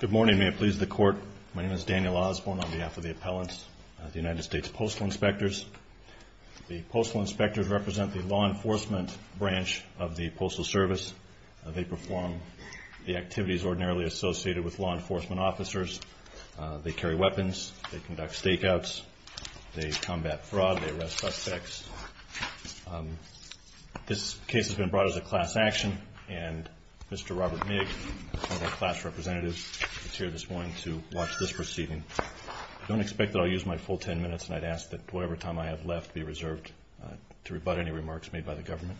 Good morning, may it please the Court. My name is Daniel Osborne on behalf of the appellants, the United States Postal Inspectors. The Postal Inspectors represent the law enforcement branch of the Postal Service. They perform the activities ordinarily associated with law enforcement officers. They carry weapons, they conduct stakeouts, they combat fraud, they arrest suspects. This case has been brought as a class action, and Mr. Robert Nigg, one of our class representatives, is here this morning to watch this proceeding. I don't expect that I'll use my full ten minutes, and I'd ask that whatever time I have left be reserved to rebut any remarks made by the government.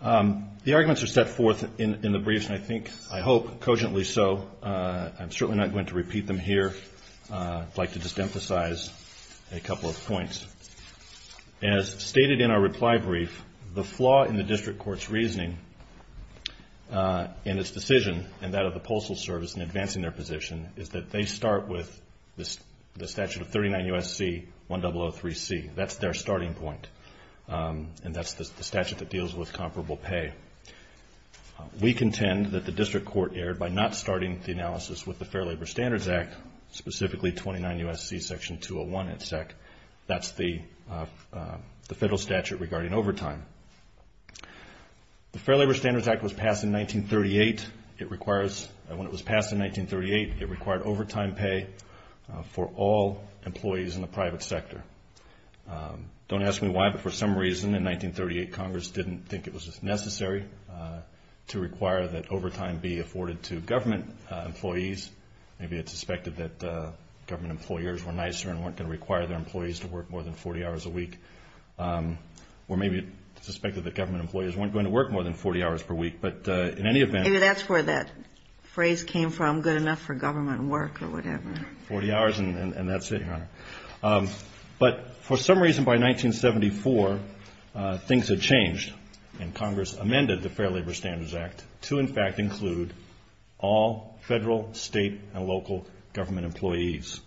The arguments are set forth in the briefs, and I think, I hope, cogently so. I'm certainly not going to repeat them here. I'd like to just emphasize a couple of points. As stated in our reply brief, the flaw in the District Court's reasoning in its decision, and that of the Postal Service in advancing their position, is that they start with the statute of 39 U.S.C. 1003C. That's their starting point, and that's the statute that deals with comparable pay. We contend that the District Court erred by not starting the analysis with the Fair Labor Standards Act in 1931. That's the federal statute regarding overtime. The Fair Labor Standards Act was passed in 1938. When it was passed in 1938, it required overtime pay for all employees in the private sector. Don't ask me why, but for some reason in 1938, Congress didn't think it was necessary to require that overtime be afforded to government employees. Maybe it suspected that government employers were nicer and weren't going to require their employees to work more than 40 hours a week, or maybe it suspected that government employees weren't going to work more than 40 hours per week, but in any event... Maybe that's where that phrase came from, good enough for government work or whatever. Forty hours and that's it, Your Honor. But for some reason by 1974, things had changed, and Congress amended the Fair Labor Standards Act to in fact include all federal, state, and local government employees.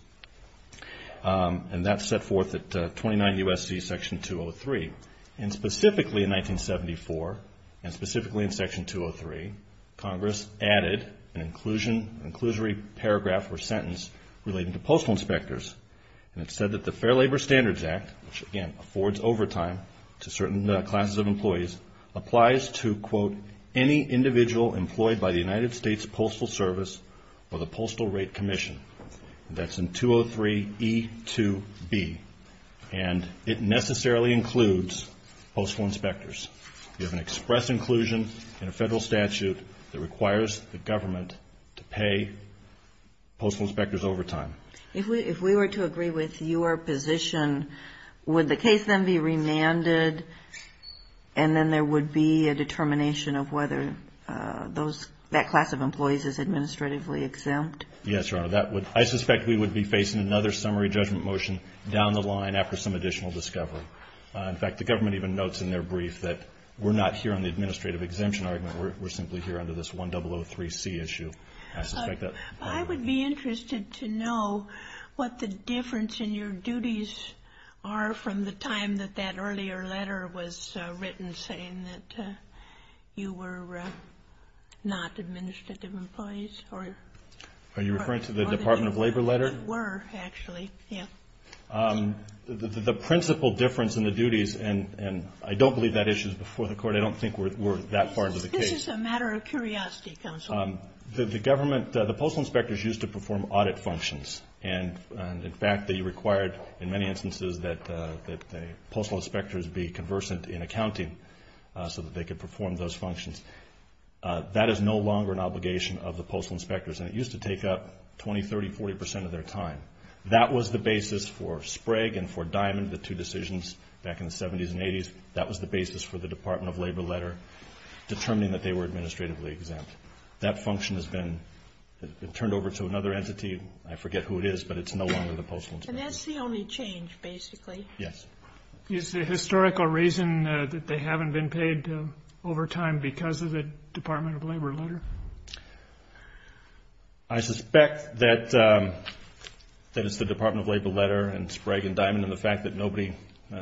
And that set forth at 29 U.S.C. Section 203. And specifically in 1974, and specifically in Section 203, Congress added an inclusion, an inclusory paragraph or sentence relating to postal inspectors. And it said that the Fair Labor Standards Act, which again affords overtime to certain classes of employees, applies to, quote, any individual employed by the United States Postal Service or the Postal Rate Commission. That's in 203E2B. And it necessarily includes postal inspectors. You have an express inclusion in a federal statute that requires the government to pay postal inspectors overtime. If we were to agree with your position, would the case then be remanded, and then there would be a determination of whether that class of employees is administratively exempt? Yes, Your Honor. I suspect we would be facing another summary judgment motion down the line after some additional discovery. In fact, the government even notes in their brief that we're not here on the administrative exemption argument. We're simply here under this 1003C issue. I suspect that... I would be interested to know what the difference in your duties are from the time that that earlier letter was written saying that you were not administrative employees or... Are you referring to the Department of Labor letter? Were, actually. Yeah. The principal difference in the duties, and I don't believe that issue is before the Court. I don't think we're that far into the case. This is a matter of curiosity, Counsel. The government, the postal inspectors used to perform audit functions, and in fact they required in many instances that the postal inspectors be conversant in accounting so that they could perform those functions. That is no longer an obligation of the postal inspectors, and it used to take up 20, 30, 40 percent of their time. That was the basis for Sprague and for Diamond, the two decisions back in the 70s and 80s. That was the basis for the And that function has been turned over to another entity. I forget who it is, but it's no longer the postal inspectors. And that's the only change, basically. Yes. Is the historical reason that they haven't been paid overtime because of the Department of Labor letter? I suspect that it's the Department of Labor letter and Sprague and Diamond and the fact that nobody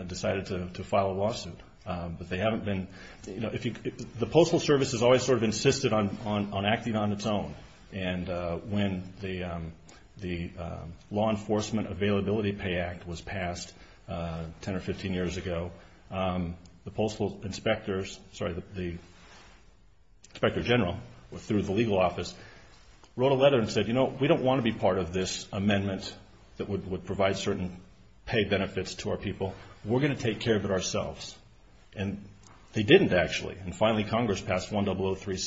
decided to file a lawsuit, but they haven't been... The Postal Service has always sort of insisted on acting on its own, and when the Law Enforcement Availability Pay Act was passed 10 or 15 years ago, the postal inspectors, sorry, the inspector general through the legal office wrote a letter and said, you know, we don't want to be part of this amendment that would provide certain pay benefits to our people. We're going to have to pay 203C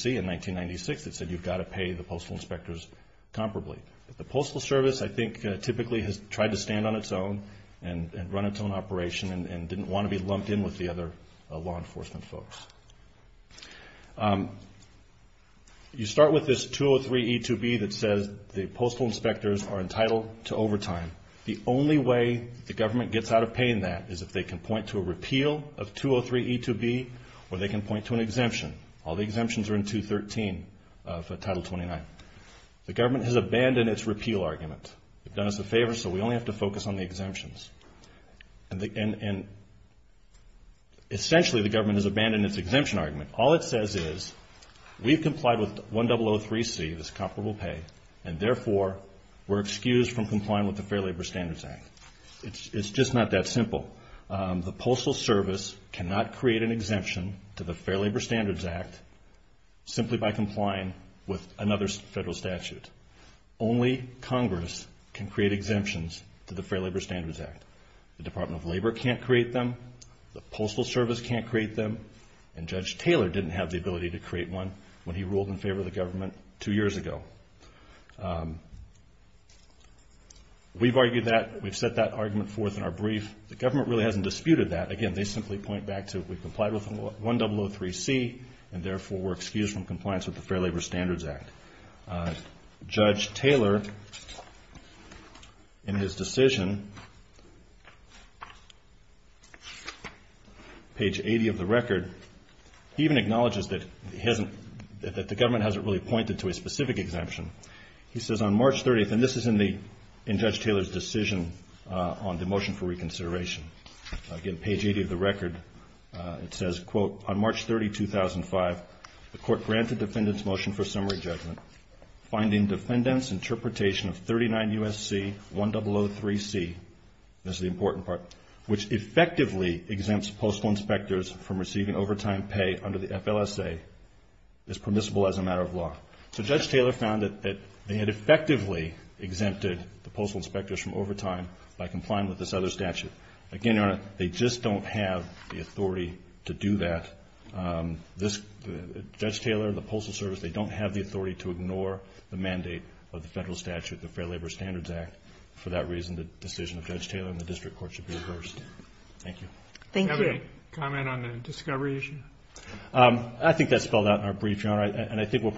in 1996 that said you've got to pay the postal inspectors comparably. The Postal Service, I think, typically has tried to stand on its own and run its own operation and didn't want to be lumped in with the other law enforcement folks. You start with this 203E2B that says the postal inspectors are entitled to overtime. The only way the government gets out of paying that is if they can point to a repeal of 203E2B or they can point to an exemption. All the exemptions are in 213 of Title 29. The government has abandoned its repeal argument. They've done us a favor, so we only have to focus on the exemptions. And essentially the government has abandoned its exemption argument. All it says is we've complied with 1003C, this comparable pay, and therefore we're excused from complying with the Fair Labor Standards Act. It's just not that simple. The Postal Service cannot create an exemption to the Fair Labor Standards Act simply by complying with another federal statute. Only Congress can create exemptions to the Fair Labor Standards Act. The Department of Labor can't create them. The Postal Service can't create them. And Judge Taylor didn't have the ability to create one when he ruled in favor of the government two years ago. We've argued that. We've set that argument forth in our brief. The government really hasn't disputed that. Again, they simply point back to we've complied with 1003C and therefore we're excused from compliance with the Fair Labor Standards Act. Judge Taylor in his decision, page 80 of the record, he even acknowledges that the government hasn't really pointed to a specific exemption. He says on March 30th, and this is in Judge Taylor's decision on the motion for reconsideration, again, page 80 of the record, it says, quote, on March 30, 2005, the court granted defendants motion for summary judgment, finding defendants interpretation of 39 U.S.C. 1003C, this is the important part, which effectively exempts postal inspectors from receiving overtime pay under the FLSA as permissible as a matter of law. So Judge Taylor found that they had effectively exempted the postal inspectors from overtime by complying with this other statute. Again, Your Honor, they just don't have the authority to do that. Judge Taylor and the Postal Service, they don't have the authority to ignore the mandate of the federal statute, the Fair Labor Standards Act. For that reason, the decision of Judge Taylor and the district court should be reversed. Thank you. Thank you. Do you have any comment on the discovery issue? I think that's spelled out in our brief, Your Honor, and I think we'll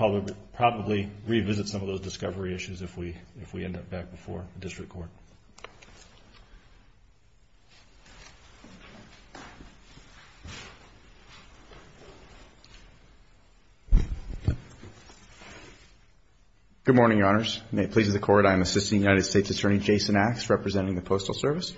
probably revisit some of those discovery issues if we end up back before the district court. Good morning, Your Honors. May it please the Court, I am Assistant United States Attorney Jason Axe, representing the Postal Service.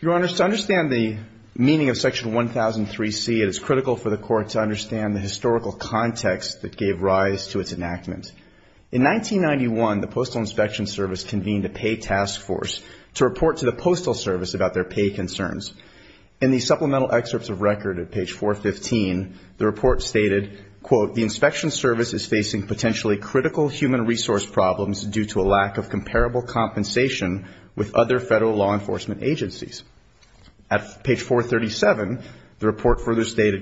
Your Honors, to understand the meaning of the term, it is critical for the Court to understand the historical context that gave rise to its enactment. In 1991, the Postal Inspection Service convened a pay task force to report to the Postal Service about their pay concerns. In the supplemental excerpts of record at page 415, the report stated, quote, the Inspection Service is facing potentially critical human resource problems due to a lack of comparable compensation with other agencies.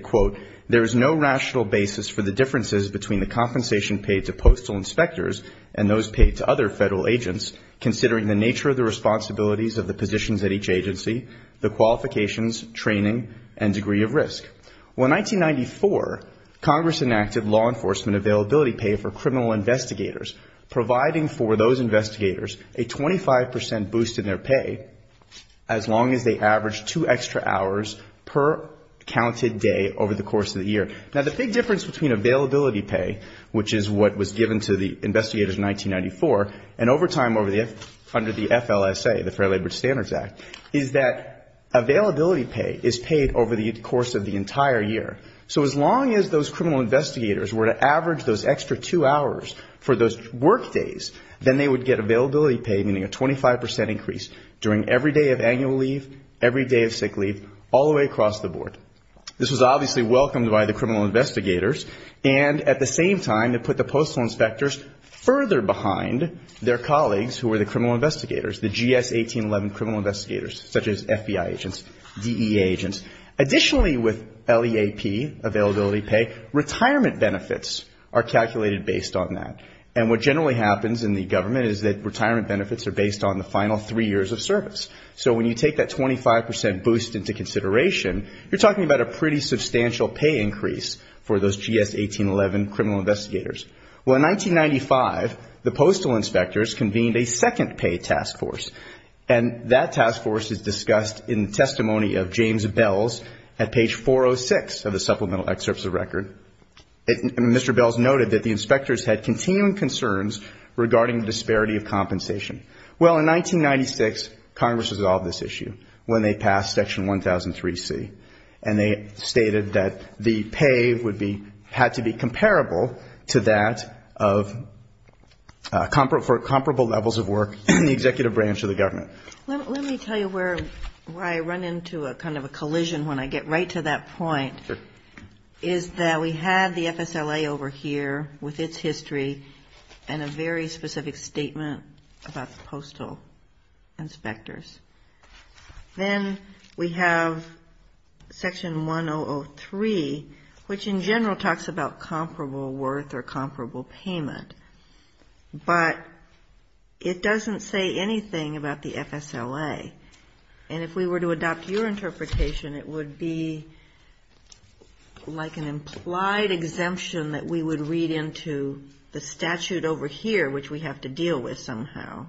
Quote, there is no rational basis for the differences between the compensation paid to postal inspectors and those paid to other federal agents, considering the nature of the responsibilities of the positions at each agency, the qualifications, training, and degree of risk. Well, in 1994, Congress enacted law enforcement availability pay for criminal investigators, providing for those investigators a 25 percent boost in their pay as long as they averaged two extra hours per counted day over the course of the year. Now, the big difference between availability pay, which is what was given to the investigators in 1994, and overtime under the FLSA, the Fair Labor Standards Act, is that availability pay is paid over the course of the entire year. So as long as those criminal investigators were to average those extra two hours for those work days, then they would get availability pay, meaning a day of sick leave, all the way across the board. This was obviously welcomed by the criminal investigators, and at the same time, it put the postal inspectors further behind their colleagues who were the criminal investigators, the GS 1811 criminal investigators, such as FBI agents, DEA agents. Additionally, with LEAP, availability pay, retirement benefits are calculated based on that. And what generally happens in the government is that retirement benefits are based on the final three years of service. So when you take that 25 percent boost into consideration, you're talking about a pretty substantial pay increase for those GS 1811 criminal investigators. Well, in 1995, the postal inspectors convened a second pay task force, and that task force is discussed in the testimony of James Bells at page 406 of the supplemental excerpts of record. Mr. Bells noted that the inspectors had continuing concerns regarding the payment of the FSLA. In 1996, Congress resolved this issue when they passed Section 1003C. And they stated that the pay would be, had to be comparable to that of comparable levels of work in the executive branch of the government. Let me tell you where I run into a kind of a collision when I get right to that point. Is that we had the FSLA over here with its history and a very specific statement about the inspectors. Then we have Section 1003, which in general talks about comparable worth or comparable payment. But it doesn't say anything about the FSLA. And if we were to adopt your interpretation, it would be like an implied exemption that we would read into the statute over here, which we have to deal with somehow,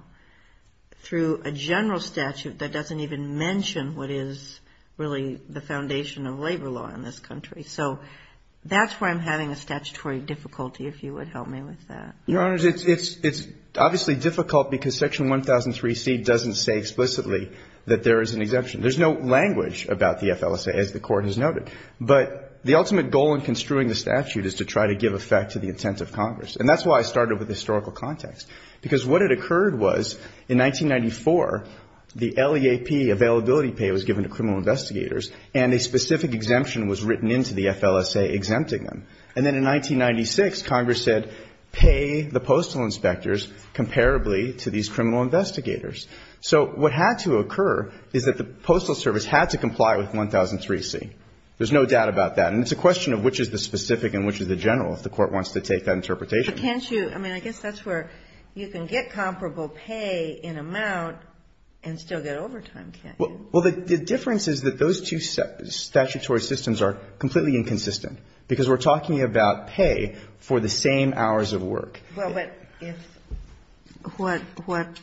through a general statute that doesn't even mention what is really the foundation of labor law in this country. So that's where I'm having a statutory difficulty, if you would help me with that. Your Honors, it's obviously difficult because Section 1003C doesn't say explicitly that there is an exemption. There's no language about the FLSA, as the Court has noted. But the ultimate goal in this context, because what had occurred was in 1994, the LEAP, availability pay, was given to criminal investigators, and a specific exemption was written into the FLSA exempting them. And then in 1996, Congress said pay the postal inspectors comparably to these criminal investigators. So what had to occur is that the Postal Service had to comply with 1003C. There's no doubt about that. And it's a question of which is the specific and which is the general, if the Court wants to take that interpretation. But can't you? I mean, I guess that's where you can get comparable pay in amount and still get overtime, can't you? Well, the difference is that those two statutory systems are completely inconsistent because we're talking about pay for the same hours of work. Well, but if what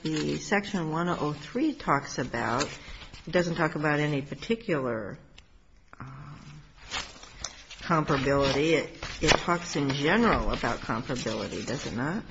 the Section 1003 talks about doesn't talk about any particular comparability, it talks in general about comparability, does it not?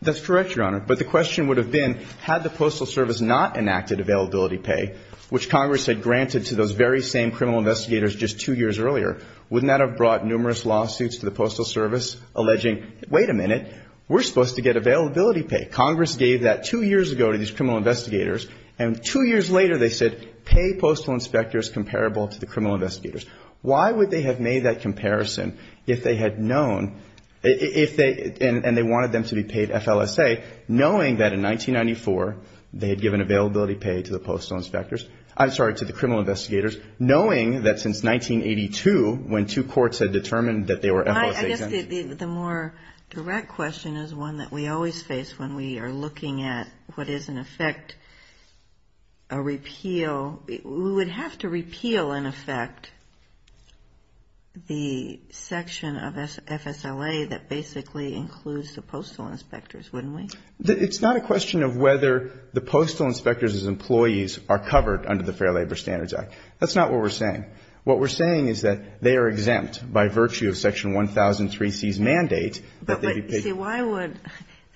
That's correct, Your Honor. But the question would have been, had the Postal Service not enacted availability pay, which Congress had granted to those very same criminal investigators just two years earlier, wouldn't that have brought numerous lawsuits to the Postal Service alleging, wait a minute, we're supposed to get availability pay. Congress gave that two years ago to these criminal investigators, and two years later they said pay postal inspectors comparable to the criminal investigators. Why would they have made that comparison if they had known, if they, and they wanted them to be paid FLSA, knowing that in 1994 they had given availability pay to the postal inspectors, I'm sorry, to the criminal investigators, knowing that since 1982, when two courts had determined that they were FLSA exempt. The more direct question is one that we always face when we are looking at what is in effect a repeal. We would have to repeal, in effect, the section of FSLA that basically includes the postal inspectors, wouldn't we? It's not a question of whether the postal inspectors as employees are covered under the Fair Labor Standards Act. That's not what we're saying. What we're saying is that they are exempt by virtue of section 1003C's mandate that they be paid. But see, why would,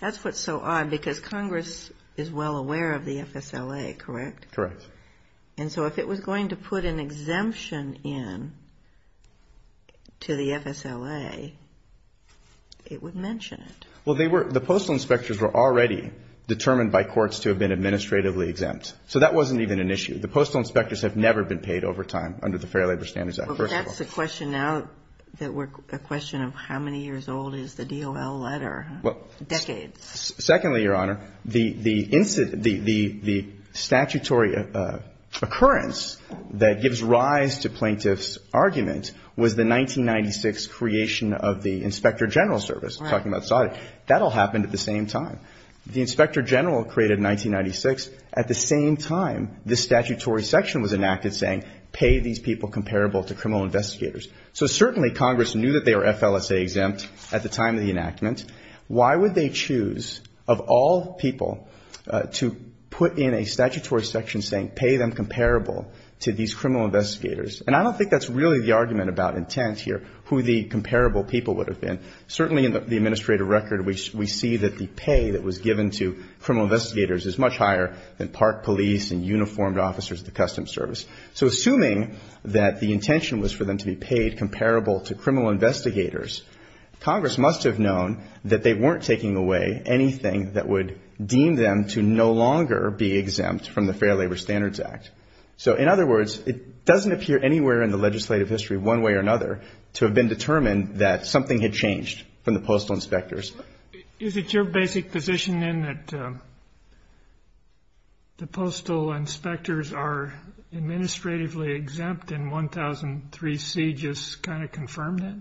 that's what's so odd, because Congress is well aware of the FSLA, correct? Correct. And so if it was going to put an exemption in to the FSLA, it would mention it. Well, they were, the postal inspectors were already determined by courts to have been administratively exempt. So that wasn't even an issue. The postal inspectors have never been paid overtime under the Fair Labor Standards Act. That's the question now that we're, a question of how many years old is the DOL letter? Decades. Secondly, Your Honor, the statutory occurrence that gives rise to plaintiff's argument was the 1996 creation of the Inspector General Service, talking about SOTIC. That all happened at the same time. The Inspector General created in 1996. At the same time, the statutory section was enacted saying pay these people comparable to criminal investigators. So certainly Congress knew that they were FLSA exempt at the time of the enactment. Why would they choose, of all people, to put in a statutory section saying pay them comparable to these criminal investigators? And I don't think that's really the argument about intent here, who the comparable people would have been. Certainly in the administrative record, we see that the pay that was given to criminal investigators is much higher than park police and uniformed officers of the Customs Service. So assuming that the intention was for them to be paid comparable to criminal investigators, Congress must have known that they weren't taking away anything that would deem them to no longer be exempt from the Fair Labor Standards Act. So in other words, it doesn't appear anywhere in the legislative history, one way or another, to have been determined that something had changed from the postal inspectors. Is it your basic position, then, that the postal inspectors are administratively exempt and 1003C just kind of confirmed it?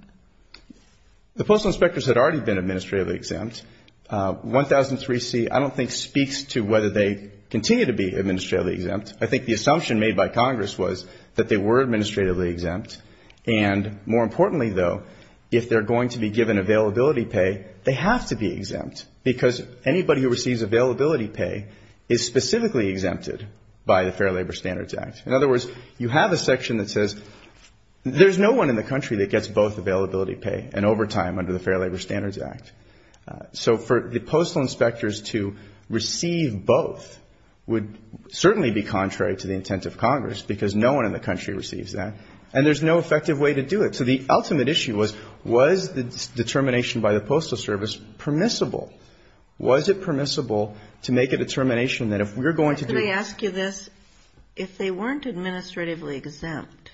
1003C, I don't think, speaks to whether they continue to be administratively exempt. I think the assumption made by Congress was that they were administratively exempt. And more importantly, though, if they're going to be given availability pay, they have to be exempt. Because anybody who receives availability pay is specifically exempted by the Fair Labor Standards Act. In other words, you have a section that says there's no one in the country that gets both availability pay and overtime under the Fair Labor Standards Act. So for the postal inspectors to receive both would certainly be contrary to the intent of Congress, because no one in the country receives that, and there's no effective way to do it. So the ultimate issue was, was the determination by the Postal Service permissible? Was it permissible to make a determination that if we're going to do this? Because if they weren't administratively exempt,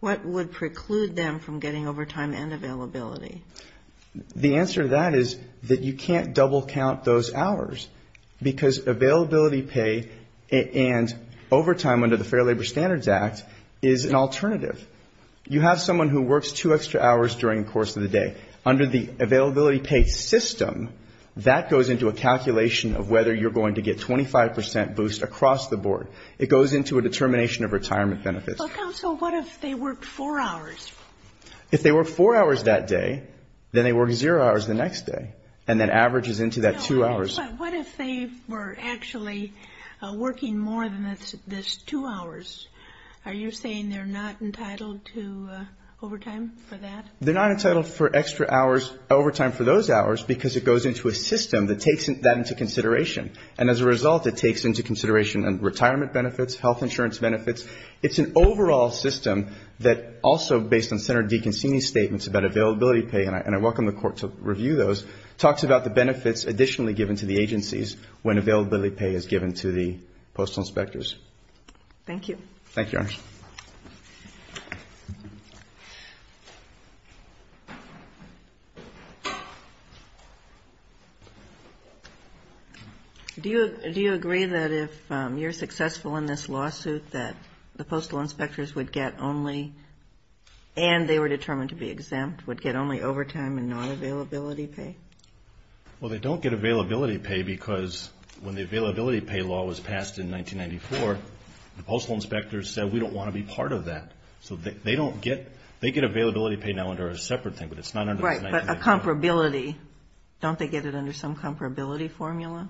what would preclude them from getting overtime and availability? The answer to that is that you can't double count those hours, because availability pay and overtime under the Fair Labor Standards Act is an alternative. You have someone who works two extra hours during the course of the day. Under the availability pay system, that goes into a calculation of whether you're going to get 25 percent boost across the board. It goes into a determination of retirement benefits. If they work four hours that day, then they work zero hours the next day, and that averages into that two hours. But what if they were actually working more than this two hours? Are you saying they're not entitled to overtime for that? They're not entitled for overtime for those hours, because it goes into a system that takes that into consideration. And as a result, it takes into consideration retirement benefits, health insurance benefits. It's an overall system that also, based on Senator DeConcini's statements about availability pay, and I welcome the Court to review those, talks about the benefits additionally given to the agencies when availability pay is given to the postal inspectors. Thank you. Thank you, Your Honor. Do you agree that if you're successful in this lawsuit, that the postal inspectors would get only, and they were determined to be exempt, would get only overtime and not availability pay? Well, they don't get availability pay because when the availability pay law was passed in 1994, the postal inspectors said, we don't want to be part of that. So they get availability pay now under a separate thing, but it's not under 1994. Right, but a comparability, don't they get it under some comparability formula?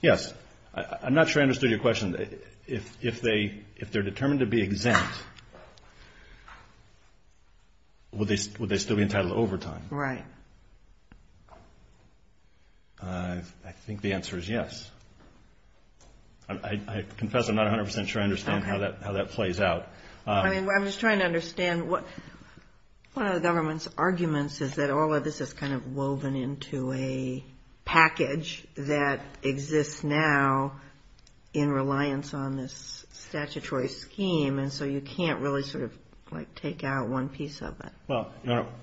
Yes. I'm not sure I understood your question. If they're determined to be exempt, would they still be entitled to overtime? Right. I think the answer is yes. I confess I'm not 100% sure I understand how that plays out. I mean, I'm just trying to understand what, one of the government's arguments is that all of this is kind of woven into a package that exists now in reliance on this statutory scheme, and so you can't really sort of like take out one piece of it. Well,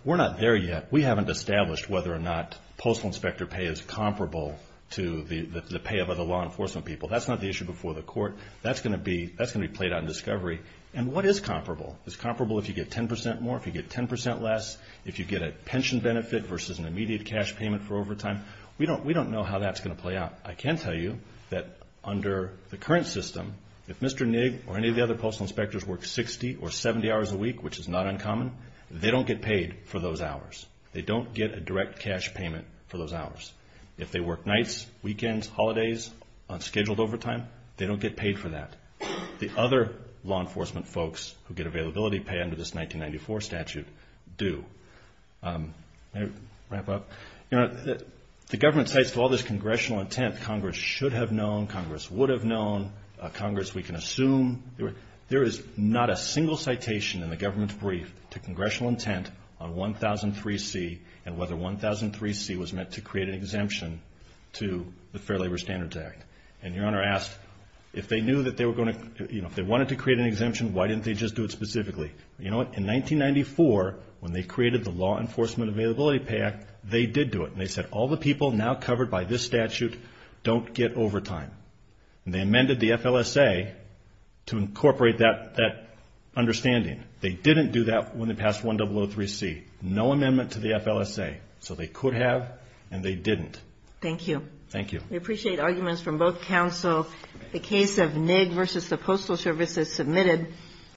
we're not there yet. We haven't established whether or not postal inspector pay is comparable to the pay of other law enforcement people. That's not the issue before the court. That's going to be played out in discovery. And what is comparable? Is it comparable if you get 10% more, if you get 10% less, if you get a pension benefit versus an immediate cash payment for overtime? We don't know how that's going to play out. I can tell you that under the current system, if Mr. Nigg or any of the other postal inspectors work 60 or 70 hours a week, which is not uncommon, they don't get paid for those hours. They don't get a direct cash payment for those hours. If they work nights, weekends, holidays, on scheduled overtime, they don't get paid for that. The other law enforcement folks who get availability pay under this 1994 statute do. May I wrap up? The government cites all this congressional intent. Congress should have known. Congress would have known. Congress, we can assume. There is not a single citation in the government's brief to congressional intent on 1003C and whether 1003C was meant to create an exemption to the Fair Labor Standards Act. And Your Honor asked, if they knew that they were going to, you know, if they wanted to create an exemption, why didn't they just do it specifically? You know what? In 1994, when they created the Law Enforcement Availability Pay Act, they did do it. And they said, all the people now covered by this statute don't get overtime. And they amended the FLSA to incorporate that understanding. They didn't do that when they passed 1003C. No amendment to the FLSA. So they could have, and they didn't. Thank you. Thank you. We appreciate arguments from both counsel. The case of Nigg versus the Postal Service is submitted.